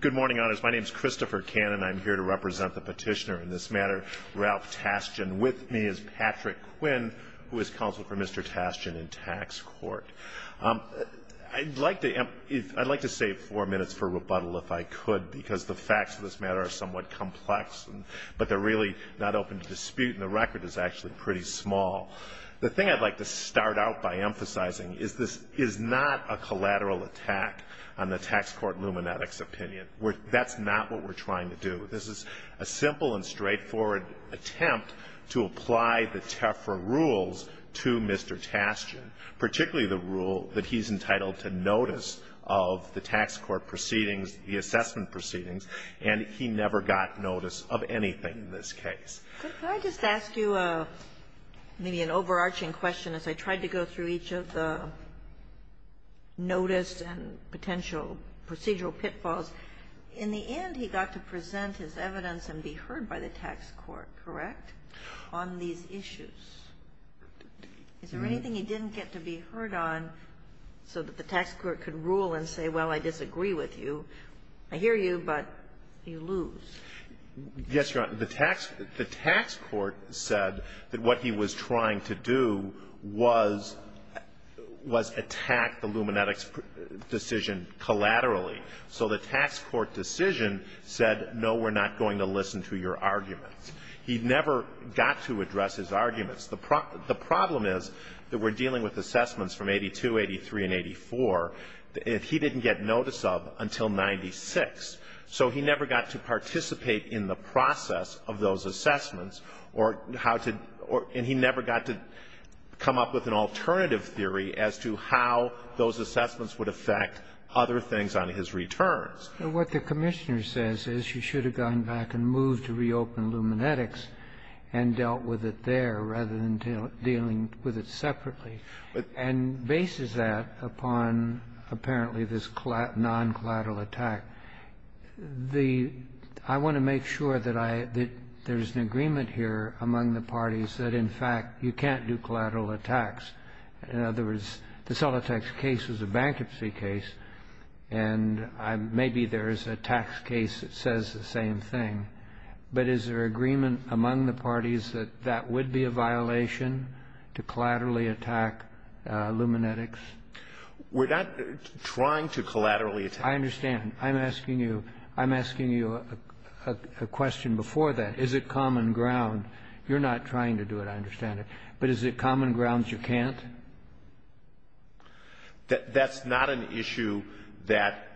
Good morning, honors. My name is Christopher Cannon. I'm here to represent the petitioner in this matter, Ralph Tashjian. With me is Patrick Quinn, who is counsel for Mr. Tashjian in Tax Court. I'd like to save four minutes for rebuttal, if I could, because the facts of this matter are somewhat complex, but they're really not open to dispute, and the record is actually pretty small. The thing I'd like to start out by emphasizing is this is not a collateral attack on the Tax Court Lumenetics opinion. That's not what we're trying to do. This is a simple and straightforward attempt to apply the TEFRA rules to Mr. Tashjian, particularly the rule that he's entitled to notice of the tax court proceedings, the assessment proceedings, and he never got notice of anything in this case. Kagan. Could I just ask you maybe an overarching question as I tried to go through each of the notice and potential procedural pitfalls? In the end, he got to present his evidence and be heard by the tax court, correct, on these issues. Is there anything he didn't get to be heard on so that the tax court could rule and say, well, I disagree with you, I hear you, but you lose? Yes, Your Honor. The tax court said that what he was trying to do was attack the Lumenetics decision collaterally, so the tax court decision said, no, we're not going to listen to your arguments. He never got to address his arguments. The problem is that we're dealing with assessments from 82, 83, and 84 that he didn't get notice of until 96. So he never got to participate in the process of those assessments or how to or he never got to come up with an alternative theory as to how those assessments would affect other things on his returns. But what the Commissioner says is you should have gone back and moved to reopen Lumenetics and dealt with it there rather than dealing with it separately, and bases that upon apparently this non-collateral attack. I want to make sure that there's an agreement here among the parties that, in fact, you can't do collateral attacks. In other words, the Solitax case was a bankruptcy case, and maybe there is a tax case that says the same thing. But is there agreement among the parties that that would be a violation to collaterally attack Lumenetics? We're not trying to collaterally attack. I understand. I'm asking you. I'm asking you a question before that. Is it common ground? You're not trying to do it. I understand it. But is it common ground you can't? That's not an issue that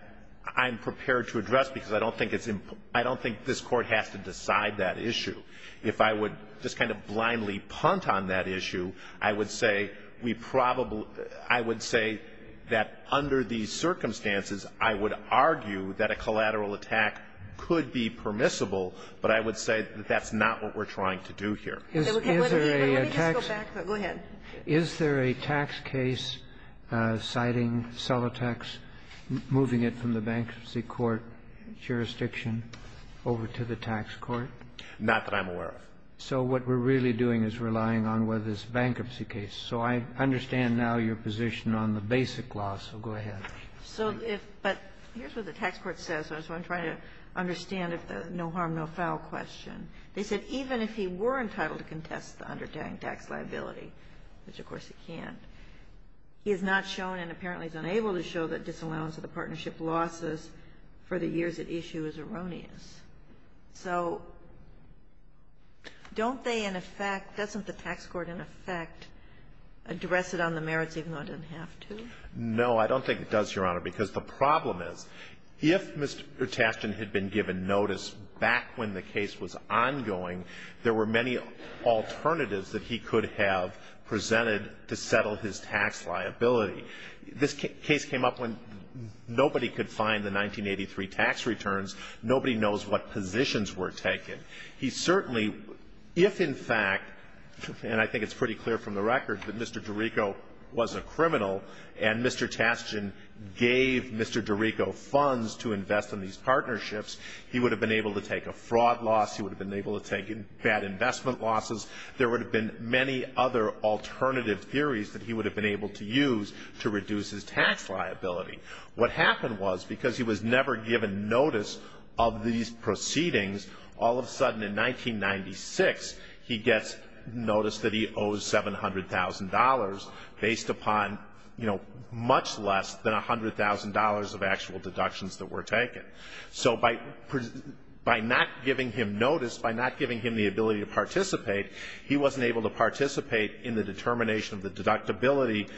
I'm prepared to address because I don't think it's important I don't think this Court has to decide that issue. If I would just kind of blindly punt on that issue, I would say we probably I would say that under these circumstances, I would argue that a collateral attack could be permissible, but I would say that's not what we're trying to do here. Is there a tax case citing Solitax, moving it from the bankruptcy court jurisdiction over to the tax court? Not that I'm aware of. So what we're really doing is relying on whether it's a bankruptcy case. So I understand now your position on the basic law, so go ahead. But here's what the tax court says, so I'm trying to understand if the no harm, no foul question. They said even if he were entitled to contest the undertaking tax liability, which of course he can't, he is not shown and apparently is unable to show that Don't they, in effect, doesn't the tax court, in effect, address it on the merits even though it doesn't have to? No, I don't think it does, Your Honor, because the problem is if Mr. Tashton had been given notice back when the case was ongoing, there were many alternatives that he could have presented to settle his tax liability. This case came up when nobody could find the 1983 tax returns. Nobody knows what positions were taken. He certainly, if in fact, and I think it's pretty clear from the record that Mr. DeRico was a criminal and Mr. Tashton gave Mr. DeRico funds to invest in these partnerships, he would have been able to take a fraud loss. He would have been able to take bad investment losses. There would have been many other alternative theories that he would have been able to use to reduce his tax liability. What happened was because he was never given notice of these proceedings, all of a sudden, in 1996, he gets notice that he owes $700,000 based upon, you know, much less than $100,000 of actual deductions that were taken. So by not giving him notice, by not giving him the ability to participate, he wasn't able to participate in the determination of the deductibility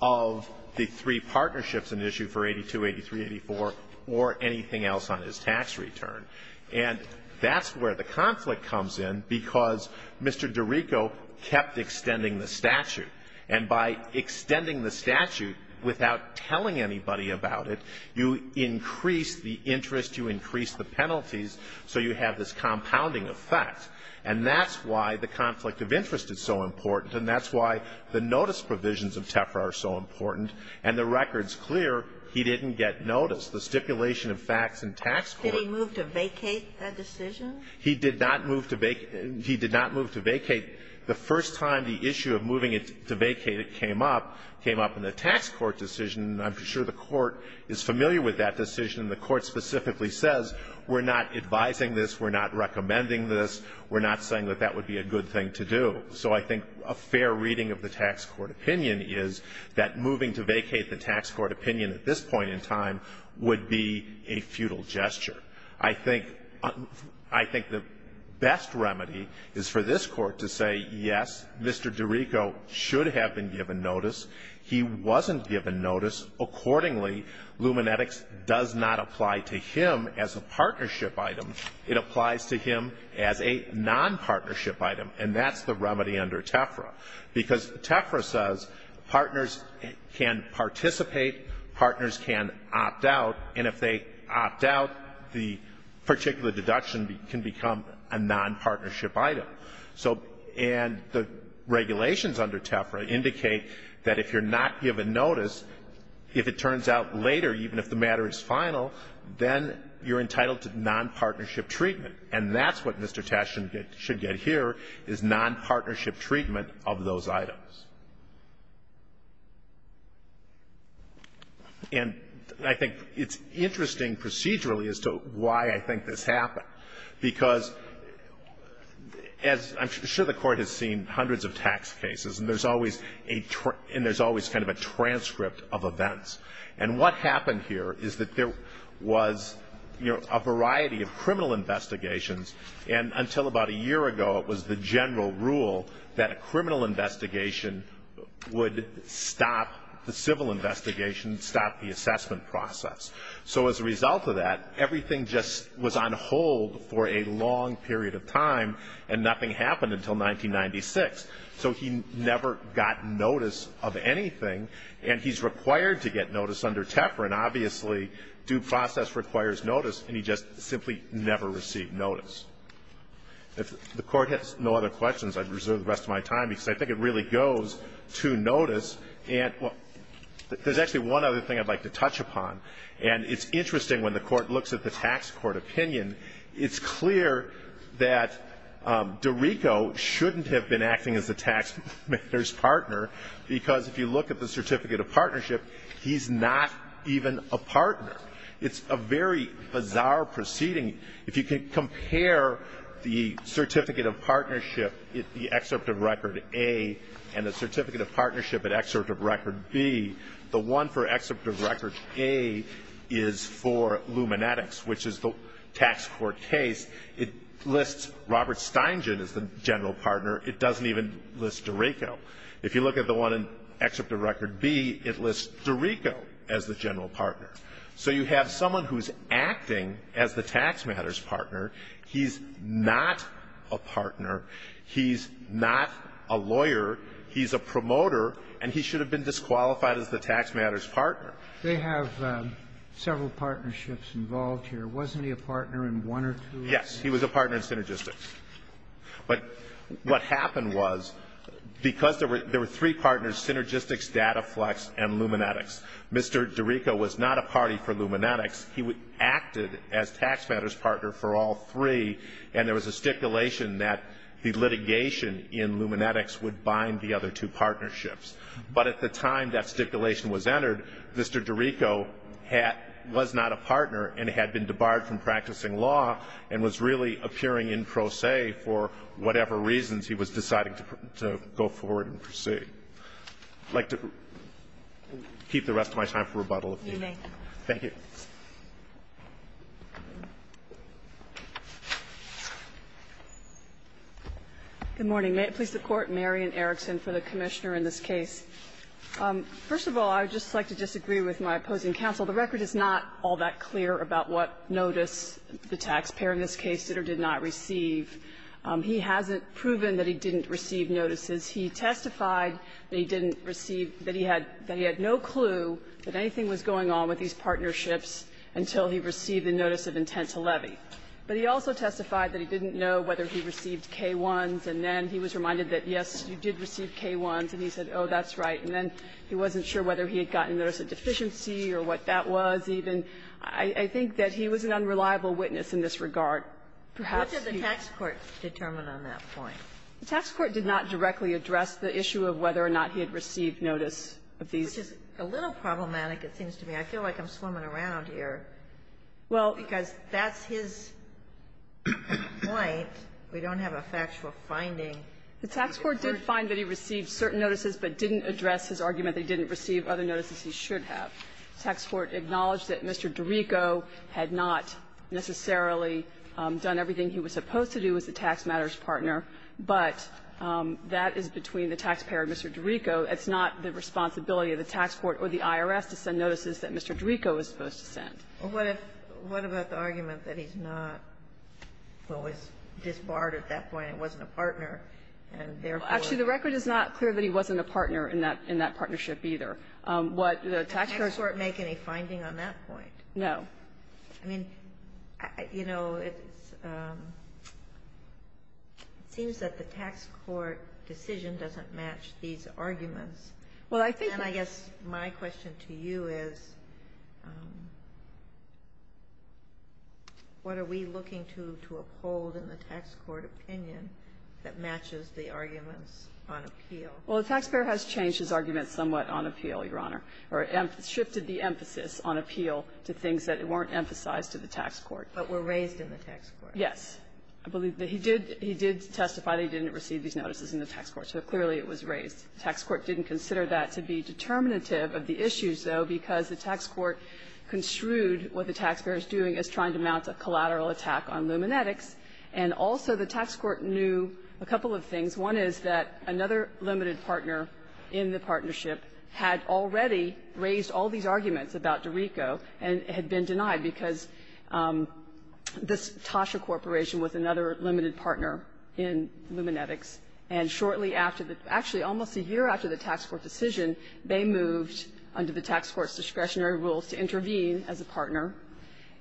of the three partnerships in issue for 82, 83, 84, or anything else on his tax return. And that's where the conflict comes in because Mr. DeRico kept extending the statute. And by extending the statute without telling anybody about it, you increase the interest, you increase the penalties, so you have this compounding effect. And that's why the conflict of interest is so important, and that's why the notice provisions of TEFRA are so important, and the record's clear he didn't get notice. The stipulation of facts in tax court Did he move to vacate that decision? He did not move to vacate. He did not move to vacate. The first time the issue of moving it to vacate came up, came up in the tax court decision. I'm sure the Court is familiar with that decision, and the Court specifically says, we're not advising this, we're not recommending this, we're not saying that that would be a good thing to do. So I think a fair reading of the tax court opinion is that moving to vacate the tax court opinion at this point in time would be a futile gesture. I think the best remedy is for this Court to say, yes, Mr. DeRico should have been given notice, he wasn't given notice. Accordingly, Lumenetics does not apply to him as a partnership item. It applies to him as a nonpartnership item, and that's the remedy under TEFRA. Because TEFRA says partners can participate, partners can opt out, and if they opt out, the particular deduction can become a nonpartnership item. So and the regulations under TEFRA indicate that if you're not given notice, if it turns out later, even if the matter is final, then you're entitled to nonpartnership treatment, and that's what Mr. Tash should get here, is nonpartnership treatment of those items. And I think it's interesting procedurally as to why I think this happened, because, as I'm sure the Court has seen hundreds of tax cases, and there's always a – and there's always kind of a transcript of events. And what happened here is that there was, you know, a variety of criminal investigations, and until about a year ago, it was the general rule that a criminal investigation would stop the civil investigation, stop the assessment process. So as a result of that, everything just was on hold for a long period of time, and nothing happened until 1996. So he never got notice of anything, and he's required to get notice under TEFRA, and obviously due process requires notice, and he just simply never received notice. If the Court has no other questions, I'd reserve the rest of my time, because I think it really goes to notice. And there's actually one other thing I'd like to touch upon, and it's interesting when the Court looks at the tax court opinion. It's clear that DiRico shouldn't have been acting as the taxman's partner, because if you look at the certificate of partnership, he's not even a partner. It's a very bizarre proceeding. If you can compare the certificate of partnership, the excerpt of record A, and the certificate of partnership, an excerpt of record B, the one for excerpt of record A is for Lumenetics, which is the tax court case. It lists Robert Steingen as the general partner. It doesn't even list DiRico. If you look at the one in excerpt of record B, it lists DiRico as the general partner. So you have someone who's acting as the taxman's partner. He's not a partner. He's not a lawyer. He's a promoter. And he should have been disqualified as the taxman's partner. They have several partnerships involved here. Wasn't he a partner in one or two? Yes. He was a partner in Synergistics. But what happened was, because there were three partners, Synergistics, DataFlex, and Lumenetics, Mr. DiRico was not a party for Lumenetics. He acted as taxman's partner for all three, and there was a stipulation that the litigation in Lumenetics would bind the other two partnerships. But at the time that stipulation was entered, Mr. DiRico was not a partner and had been debarred from practicing law and was really appearing in pro se I'd like to keep the rest of my time for rebuttal, if you may. You may. Thank you. Good morning. May it please the Court, Marion Erickson for the Commissioner in this case. First of all, I would just like to disagree with my opposing counsel. The record is not all that clear about what notice the taxpayer in this case did or did not receive. He hasn't proven that he didn't receive notices. He testified that he didn't receive, that he had no clue that anything was going on with these partnerships until he received a notice of intent to levy. But he also testified that he didn't know whether he received K-1s, and then he was reminded that, yes, you did receive K-1s, and he said, oh, that's right. And then he wasn't sure whether he had gotten notice of deficiency or what that was even. I think that he was an unreliable witness in this regard. Perhaps he was. What did the tax court determine on that point? The tax court did not directly address the issue of whether or not he had received notice of these. Which is a little problematic, it seems to me. I feel like I'm swimming around here. Well. Because that's his point. We don't have a factual finding. The tax court did find that he received certain notices, but didn't address his argument that he didn't receive other notices he should have. The tax court acknowledged that Mr. Dorico had not necessarily done everything he was supposed to do as the tax matters partner, but that is between the taxpayer and Mr. Dorico. It's not the responsibility of the tax court or the IRS to send notices that Mr. Dorico was supposed to send. Well, what if the argument that he's not, well, was disbarred at that point and wasn't a partner, and therefore the record is not clear that he wasn't a partner in that partnership either. Did the tax court make any finding on that point? No. I mean, you know, it's seems that the tax court decision doesn't match these arguments. Well, I think that's my question to you is, what are we looking to uphold in the tax court opinion that matches the arguments on appeal? Well, the taxpayer has changed his argument somewhat on appeal, Your Honor, or shifted the emphasis on appeal to things that weren't emphasized to the tax court. But were raised in the tax court. Yes. I believe that he did testify that he didn't receive these notices in the tax court, so clearly it was raised. The tax court didn't consider that to be determinative of the issues, though, because the tax court construed what the taxpayer is doing is trying to mount a collateral attack on Lumenetics. And also the tax court knew a couple of things. One is that another limited partner in the partnership had already raised all these arguments about DiRico and had been denied because this Tasha Corporation was another limited partner in Lumenetics, and shortly after the actually almost a year after the tax court decision, they moved under the tax court's discretionary rules to intervene as a partner,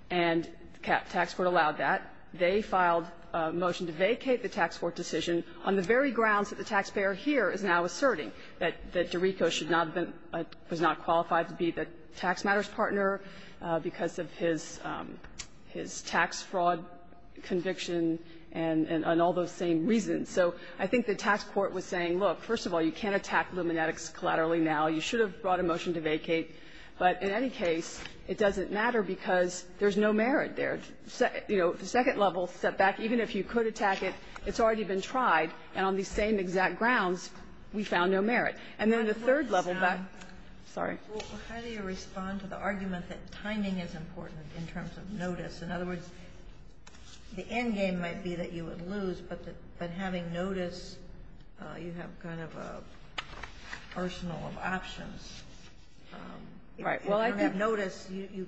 and the tax court allowed that. They filed a motion to vacate the tax court decision on the very grounds that the taxpayer here is now asserting, that DiRico should not have been, was not qualified to be the tax matters partner because of his tax fraud conviction and all those same reasons. So I think the tax court was saying, look, first of all, you can't attack Lumenetics collaterally now. You should have brought a motion to vacate. But in any case, it doesn't matter because there's no merit there. You know, the second level setback, even if you could attack it, it's already been tried, and on these same exact grounds, we found no merit. And then the third level back to you, Justice Sotomayor. How do you respond to the argument that timing is important in terms of notice? In other words, the endgame might be that you would lose, but having notice, you have kind of an arsenal of options. Right. Well, I think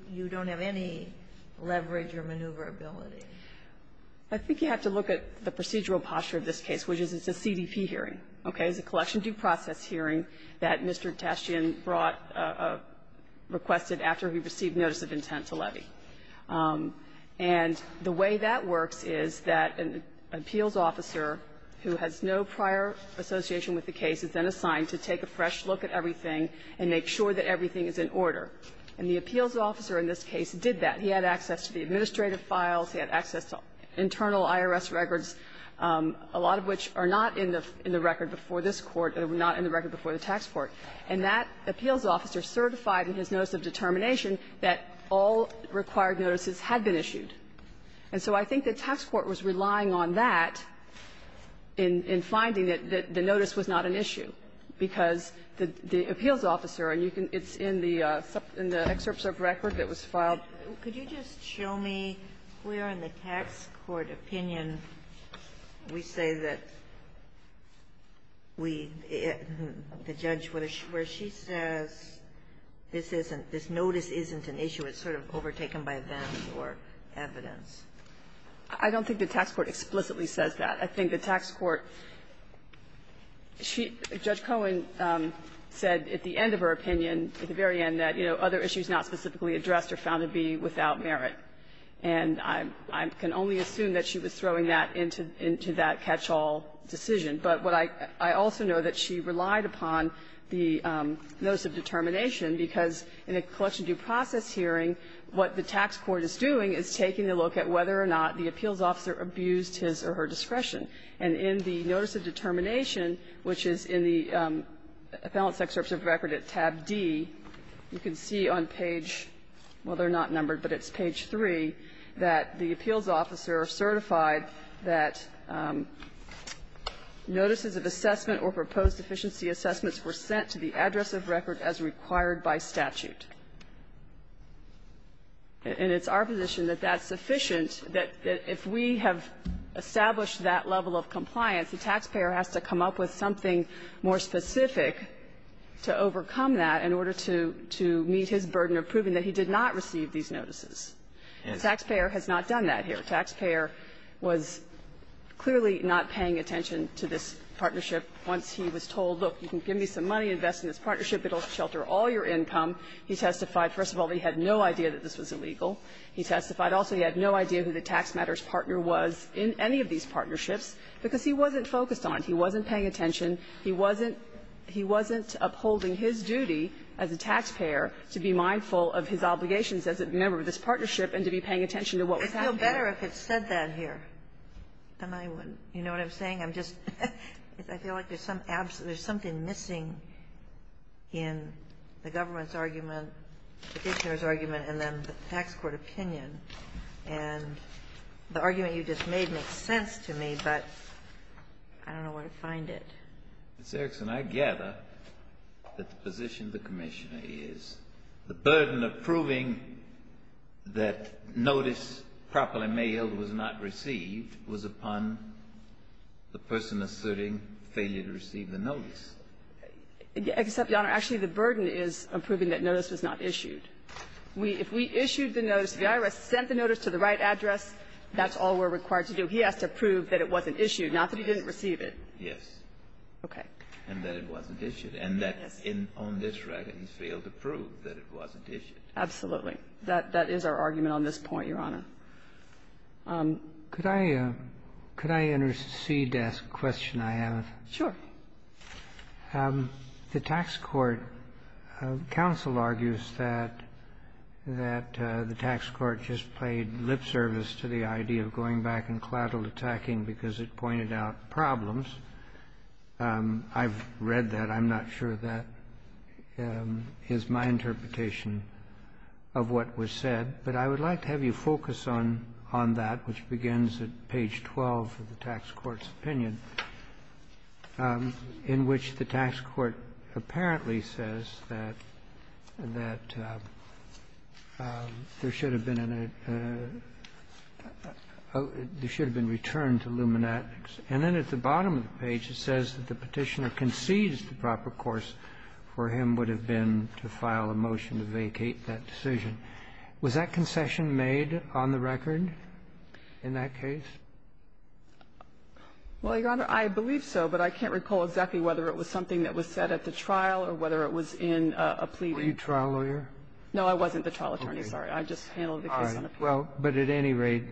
you don't have any leverage or maneuverability. I think you have to look at the procedural posture of this case, which is it's a CDP hearing, okay? It's a CDP hearing that Mr. Tastian brought or requested after he received notice of intent to levy. And the way that works is that an appeals officer who has no prior association with the case is then assigned to take a fresh look at everything and make sure that everything is in order. And the appeals officer in this case did that. He had access to the administrative files. He had access to internal IRS records, a lot of which are not in the record before this Court, not in the record before the tax court. And that appeals officer certified in his notice of determination that all required notices had been issued. And so I think the tax court was relying on that in finding that the notice was not an issue, because the appeals officer, and you can – it's in the excerpt of record that was filed. Kagan, could you just show me where in the tax court opinion we say that we – the judge, where she says this isn't – this notice isn't an issue. It's sort of overtaken by events or evidence. I don't think the tax court explicitly says that. I think the tax court – she – Judge Cohen said at the end of her opinion, at the And I can only assume that she was throwing that into that catch-all decision. But what I – I also know that she relied upon the notice of determination, because in a collection due process hearing, what the tax court is doing is taking a look at whether or not the appeals officer abused his or her discretion. And in the notice of determination, which is in the appellant's excerpt of record at tab D, you can see on page – well, they're not numbered, but it's page 3 – that the appeals officer certified that notices of assessment or proposed efficiency assessments were sent to the address of record as required by statute. And it's our position that that's sufficient, that if we have established that level of compliance, the taxpayer has to come up with something more specific to overcome. And he has to overcome that in order to – to meet his burden of proving that he did not receive these notices. And the taxpayer has not done that here. The taxpayer was clearly not paying attention to this partnership once he was told, look, you can give me some money, invest in this partnership, it'll shelter all your income. He testified, first of all, that he had no idea that this was illegal. He testified also he had no idea who the tax matters partner was in any of these partnerships, because he wasn't focused on it. He wasn't paying attention. He wasn't – he wasn't upholding his duty as a taxpayer to be mindful of his obligations as a member of this partnership and to be paying attention to what was happening. Ginsburg. I feel better if it said that here than I would. You know what I'm saying? I'm just – I feel like there's some – there's something missing in the government's argument, the petitioner's argument, and then the tax court opinion. And the argument you just made makes sense to me, but I don't know where to find it. Mr. Erickson, I gather that the position of the Commissioner is the burden of proving that notice properly mailed was not received was upon the person asserting failure to receive the notice. Except, Your Honor, actually the burden is approving that notice was not issued. If we issued the notice, the IRS sent the notice to the right address, that's all we're required to do. He has to prove that it wasn't issued, not that he didn't receive it. Yes. Okay. And that it wasn't issued. And that's in – on this record, he failed to prove that it wasn't issued. Absolutely. That is our argument on this point, Your Honor. Could I – could I intercede to ask a question I have? Sure. The tax court – counsel argues that the tax court just played lip service to the idea of going back and clad all the tacking because it pointed out problems. I've read that. I'm not sure that is my interpretation of what was said. But I would like to have you focus on that, which begins at page 12 of the tax court's opinion, in which the tax court apparently says that there should have been a – there should have been return to luminatics. And then at the bottom of the page, it says that the Petitioner concedes the proper course for him would have been to file a motion to vacate that decision. Was that concession made on the record in that case? Well, Your Honor, I believe so, but I can't recall exactly whether it was something that was said at the trial or whether it was in a plea deal. Were you a trial lawyer? No, I wasn't the trial attorney. Sorry. I just handled the case on appeal. All right. Well, but at any rate,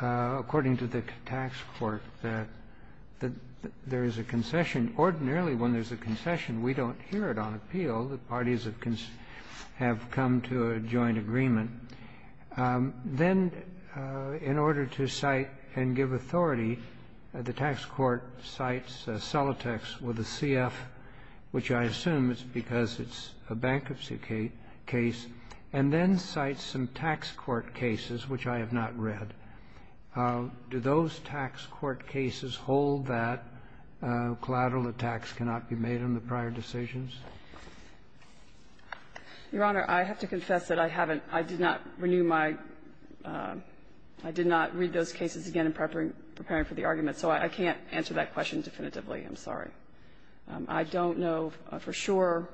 according to the tax court, there is a concession. Ordinarily, when there's a concession, we don't hear it on appeal. The parties have come to a joint agreement. Then, in order to cite and give authority, the tax court cites Celotex with a CF, which I assume is because it's a bankruptcy case, and then cites some tax court cases, which I have not read. Do those tax court cases hold that collateral attacks cannot be made on the prior decisions? Your Honor, I have to confess that I haven't – I did not renew my – I did not read those cases again in preparing for the argument, so I can't answer that question definitively, I'm sorry. I don't know for sure,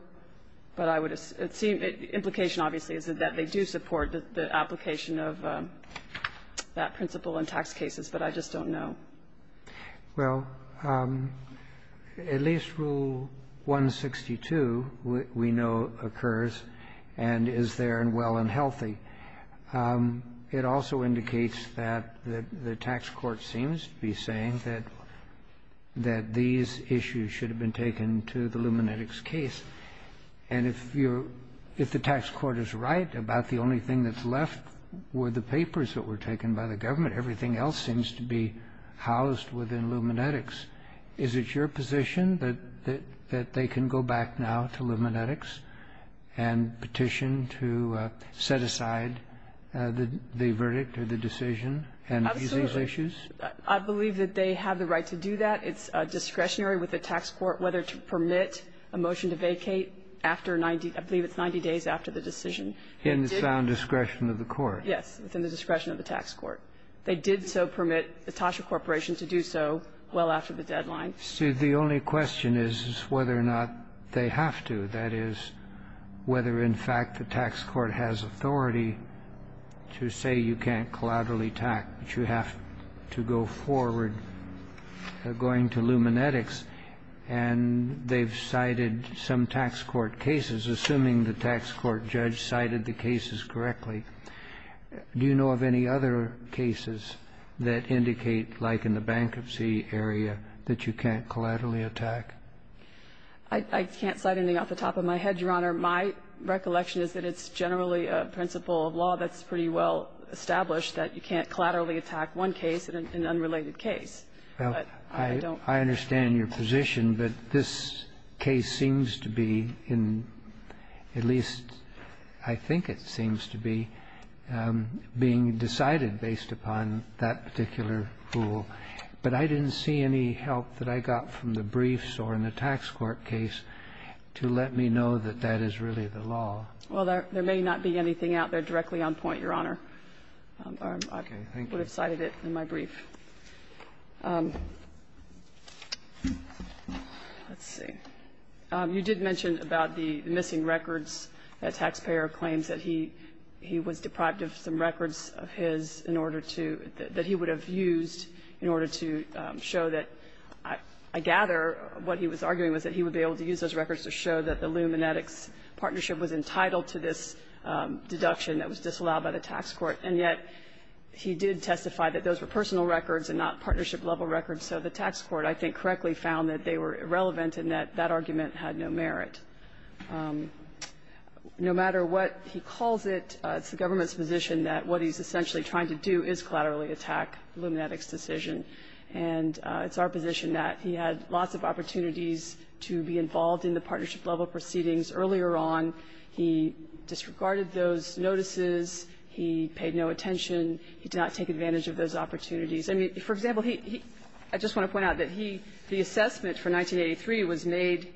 but I would assume – implication, obviously, is that they do support the application of that principle in tax cases, but I just don't know. Well, at least Rule 162, we know, occurs and is there and well and healthy. It also indicates that the tax court seems to be saying that these issues should have been taken to the Lumenetics case, and if you're – if the tax court is right about the only thing that's left were the papers that were taken by the government, but everything else seems to be housed within Lumenetics, is it your position that they can go back now to Lumenetics and petition to set aside the verdict or the decision on these issues? Absolutely. I believe that they have the right to do that. It's discretionary with the tax court whether to permit a motion to vacate after 90 – I believe it's 90 days after the decision. In the sound discretion of the court? Yes, within the discretion of the tax court. They did so permit the Tasha Corporation to do so well after the deadline. See, the only question is whether or not they have to, that is, whether, in fact, the tax court has authority to say you can't collaterally tax, but you have to go forward going to Lumenetics, and they've cited some tax court cases, assuming the tax court judge cited the cases correctly. Do you know of any other cases that indicate, like in the bankruptcy area, that you can't collaterally attack? I can't cite anything off the top of my head, Your Honor. My recollection is that it's generally a principle of law that's pretty well established that you can't collaterally attack one case in an unrelated case. I understand your position, but this case seems to be in, at least I think it seems to be, being decided based upon that particular rule. But I didn't see any help that I got from the briefs or in the tax court case to let me know that that is really the law. Well, there may not be anything out there directly on point, Your Honor. Okay. Thank you. I would have cited it in my brief. Let's see. You did mention about the missing records that Taxpayer claims that he was deprived of some records of his in order to – that he would have used in order to show that I gather what he was arguing was that he would be able to use those records to show that the Lumenetics partnership was entitled to this deduction that was disallowed by the tax court, and yet he did testify that those were personal records and not that argument had no merit. No matter what he calls it, it's the government's position that what he's essentially trying to do is collaterally attack Lumenetics' decision, and it's our position that he had lots of opportunities to be involved in the partnership level proceedings earlier on. He disregarded those notices. He paid no attention. He did not take advantage of those opportunities. I mean, for example, he – I just want to point out that he – the assessment for 1983 was made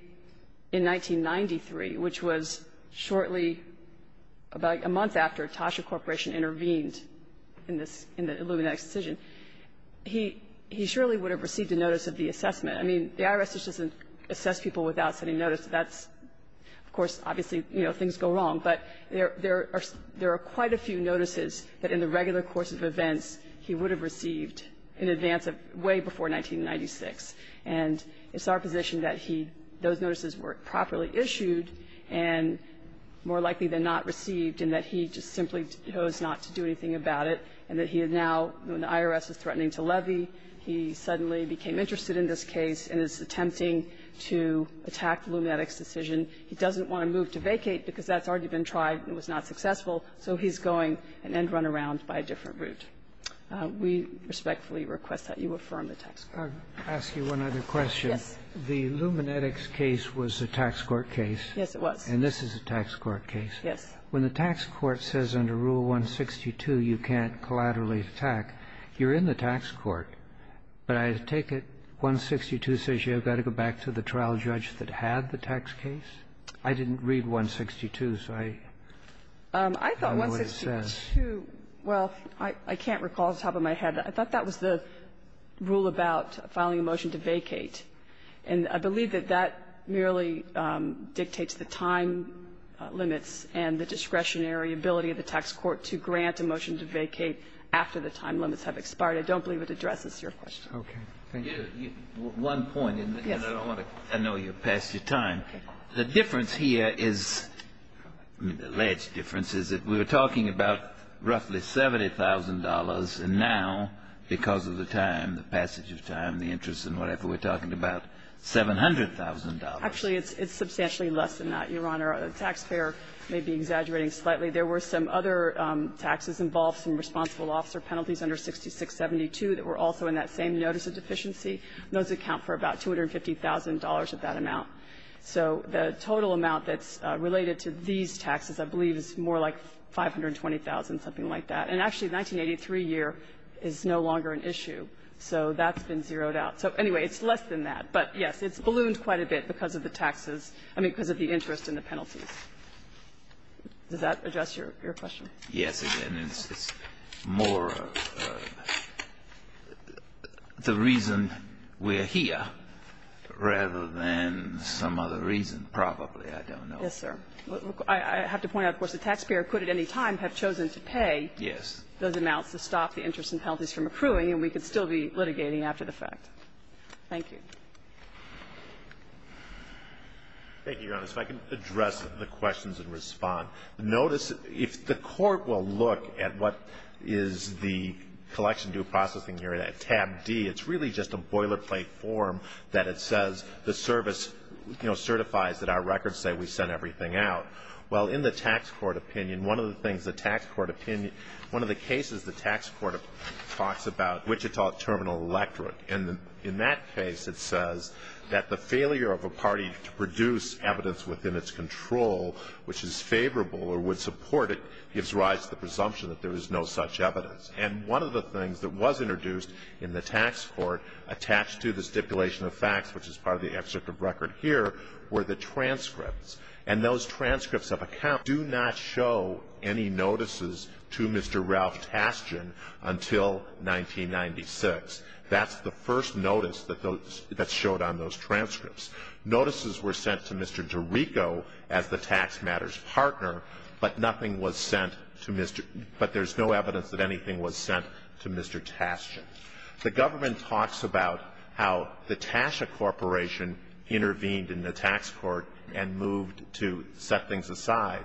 in 1993, which was shortly, about a month after, Tasha Corporation intervened in this – in the Lumenetics decision. He surely would have received a notice of the assessment. I mean, the IRS doesn't assess people without sending notice. That's – of course, obviously, you know, things go wrong. But there are quite a few notices that, in the regular course of events, he would have received in advance of – way before 1996. And it's our position that he – those notices were properly issued and more likely than not received, and that he just simply chose not to do anything about it, and that he is now, when the IRS is threatening to levy, he suddenly became interested in this case and is attempting to attack Lumenetics' decision. He doesn't want to move to vacate because that's already been tried and was not successful, so he's going an end-runaround by a different route. We respectfully request that you affirm the text. I'll ask you one other question. Yes. The Lumenetics case was a tax court case. Yes, it was. And this is a tax court case. Yes. When the tax court says under Rule 162 you can't collaterally attack, you're in the tax court, but I take it 162 says you've got to go back to the trial judge that had the tax case? I didn't read 162, so I don't know what it says. I thought 162 – well, I can't recall off the top of my head. I thought that was the rule about filing a motion to vacate. And I believe that that merely dictates the time limits and the discretionary ability of the tax court to grant a motion to vacate after the time limits have expired. I don't believe it addresses your question. Okay. Thank you. One point, and I don't want to annoy you past your time. The difference here is – the alleged difference is that we were talking about roughly $70,000, and now, because of the time, the passage of time, the interest and whatever, we're talking about $700,000. Actually, it's substantially less than that, Your Honor. The taxpayer may be exaggerating slightly. There were some other taxes involved, some responsible officer penalties under 6672 that were also in that same notice of deficiency, and those account for about $250,000 of that amount. So the total amount that's related to these taxes, I believe, is more like $520,000, something like that. And actually, the 1983 year is no longer an issue, so that's been zeroed out. So, anyway, it's less than that. But, yes, it's ballooned quite a bit because of the taxes, I mean, because of the interest and the penalties. Does that address your question? Yes, again, it's more the reason we're here rather than some other reason, probably. I don't know. Yes, sir. I have to point out, of course, the taxpayer could at any time have chosen to pay those amounts to stop the interest and penalties from accruing, and we could still be litigating after the fact. Thank you. Thank you, Your Honor. If I can address the questions and respond. Notice, if the Court will look at what is the collection due processing here at tab D, it's really just a boilerplate form that it says the service, you know, certifies that our records say we sent everything out. Well, in the tax court opinion, one of the things the tax court opinion, one of the cases the tax court talks about, Wichita Terminal Electric, and in that case it says that the failure of a party to produce evidence within its control, which is favorable or would support it, gives rise to the presumption that there is no such evidence. And one of the things that was introduced in the tax court attached to the stipulation of facts, which is part of the excerpt of record here, were the transcripts. And those transcripts of accounts do not show any notices to Mr. Ralph Tastian until 1996. That's the first notice that showed on those transcripts. Notices were sent to Mr. DeRico as the tax matters partner, but nothing was sent to Mr. – but there's no evidence that anything was sent to Mr. Tastian. The government talks about how the Tasha Corporation intervened in the tax court and moved to set things aside.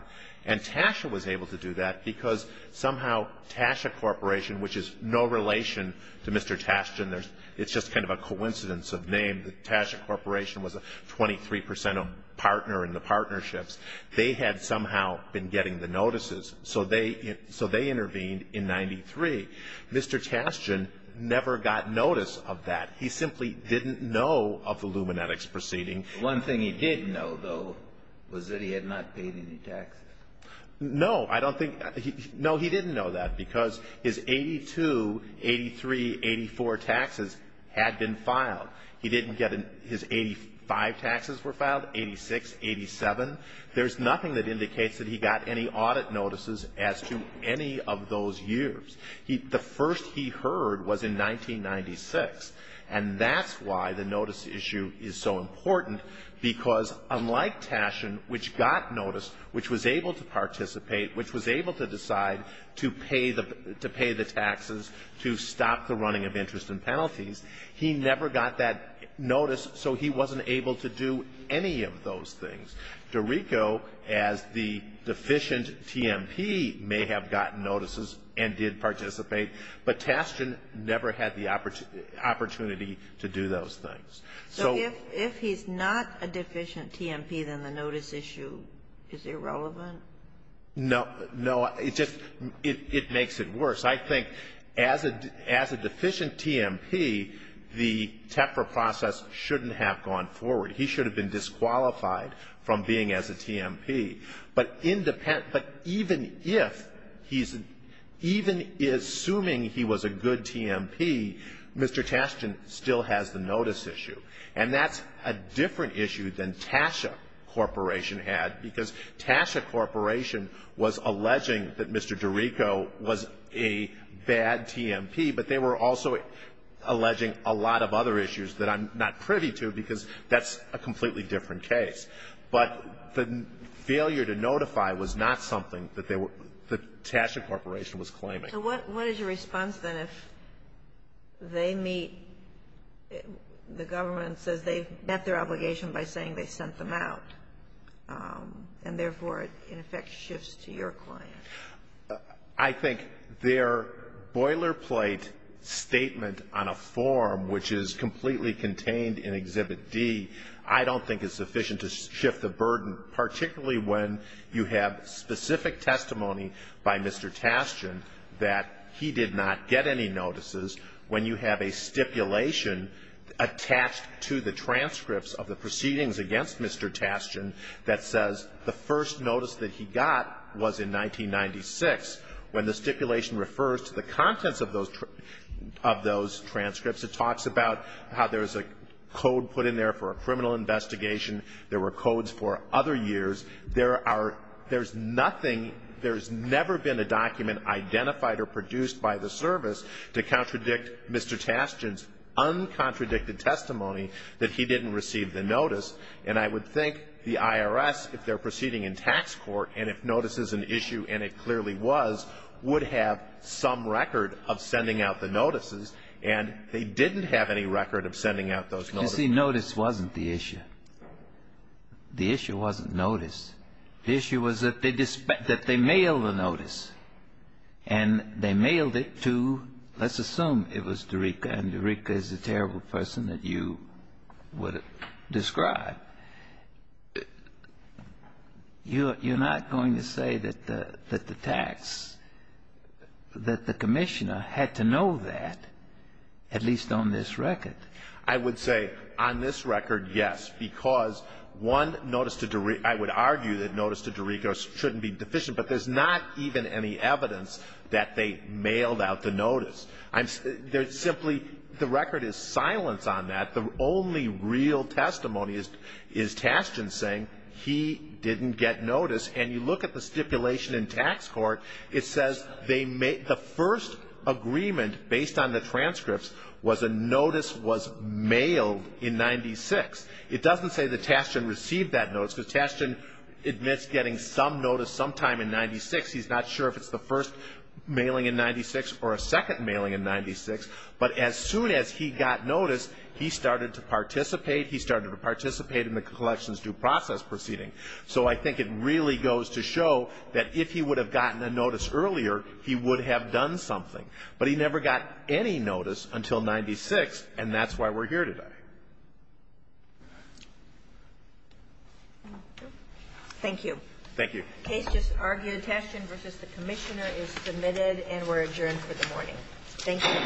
And Tasha was able to do that because somehow Tasha Corporation, which is no relation to Mr. Tastian, there's – it's just kind of a coincidence of name. The Tasha Corporation was a 23 percent partner in the partnerships. They had somehow been getting the notices. So they – so they intervened in 93. Mr. Tastian never got notice of that. He simply didn't know of the Lumenetics proceeding. One thing he did know, though, was that he had not paid any taxes. No, I don't think – no, he didn't know that because his 82, 83, 84 taxes had been filed. He didn't get – his 85 taxes were filed, 86, 87. There's nothing that indicates that he got any audit notices as to any of those years. The first he heard was in 1996. And that's why the notice issue is so important, because unlike Tashian, which got notice, which was able to participate, which was able to decide to pay the – to pay the taxes, to stop the running of interest and penalties, he never got that notice, so he wasn't able to do any of those things. Dorico, as the deficient TMP, may have gotten notices and did participate, but Tashian never had the opportunity to do those things. So if he's not a deficient TMP, then the notice issue is irrelevant? No. No. It just – it makes it worse. I think as a – as a deficient TMP, the TEPRA process shouldn't have gone forward. He should have been disqualified from being as a TMP. But independent – but even if he's – even assuming he was a good TMP, Mr. Tashian still has the notice issue. And that's a different issue than Tasha Corporation had, because Tasha Corporation was alleging that Mr. Dorico was a bad TMP, but they were also alleging a lot of other issues that I'm not privy to, because that's a completely different case. But the failure to notify was not something that they were – that Tasha Corporation was claiming. So what is your response, then, if they meet – the government says they've met their I think their boilerplate statement on a form, which is completely contained in Exhibit D, I don't think is sufficient to shift the burden, particularly when you have specific testimony by Mr. Tashian that he did not get any notices, when you have a stipulation attached to the transcripts of the proceedings against Mr. Tashian that says the first notice that he got was in 1996, when the stipulation refers to the contents of those transcripts, it talks about how there's a code put in there for a criminal investigation, there were codes for other years. There are – there's nothing – there's never been a document identified or produced by the service to contradict Mr. Tashian's uncontradicted testimony that he didn't receive the notice. And I would think the IRS, if they're proceeding in tax court, and if notice is an issue, and it clearly was, would have some record of sending out the notices, and they didn't have any record of sending out those notices. You see, notice wasn't the issue. The issue wasn't notice. The issue was that they – that they mailed the notice. And they mailed it to, let's assume it was Dorica, and Dorica is a terrible person that you would describe, you're – you're not going to say that the – that the tax – that the commissioner had to know that, at least on this record. I would say on this record, yes, because one notice to – I would argue that notice to Dorica shouldn't be deficient, but there's not even any evidence that they mailed out the notice. I'm – there's simply – the record is silence on that. The only real testimony is – is Tashian saying he didn't get notice. And you look at the stipulation in tax court, it says they made – the first agreement based on the transcripts was a notice was mailed in 96. It doesn't say that Tashian received that notice, because Tashian admits getting some notice sometime in 96. He's not sure if it's the first mailing in 96 or a second mailing in 96. But as soon as he got notice, he started to participate. He started to participate in the collections due process proceeding. So I think it really goes to show that if he would have gotten a notice earlier, he would have done something. But he never got any notice until 96, and that's why we're here today. Thank you. Thank you. The case just argued, Tashian v. the Commissioner, is submitted and we're adjourned for the morning. Thank you to both counsels. All rise.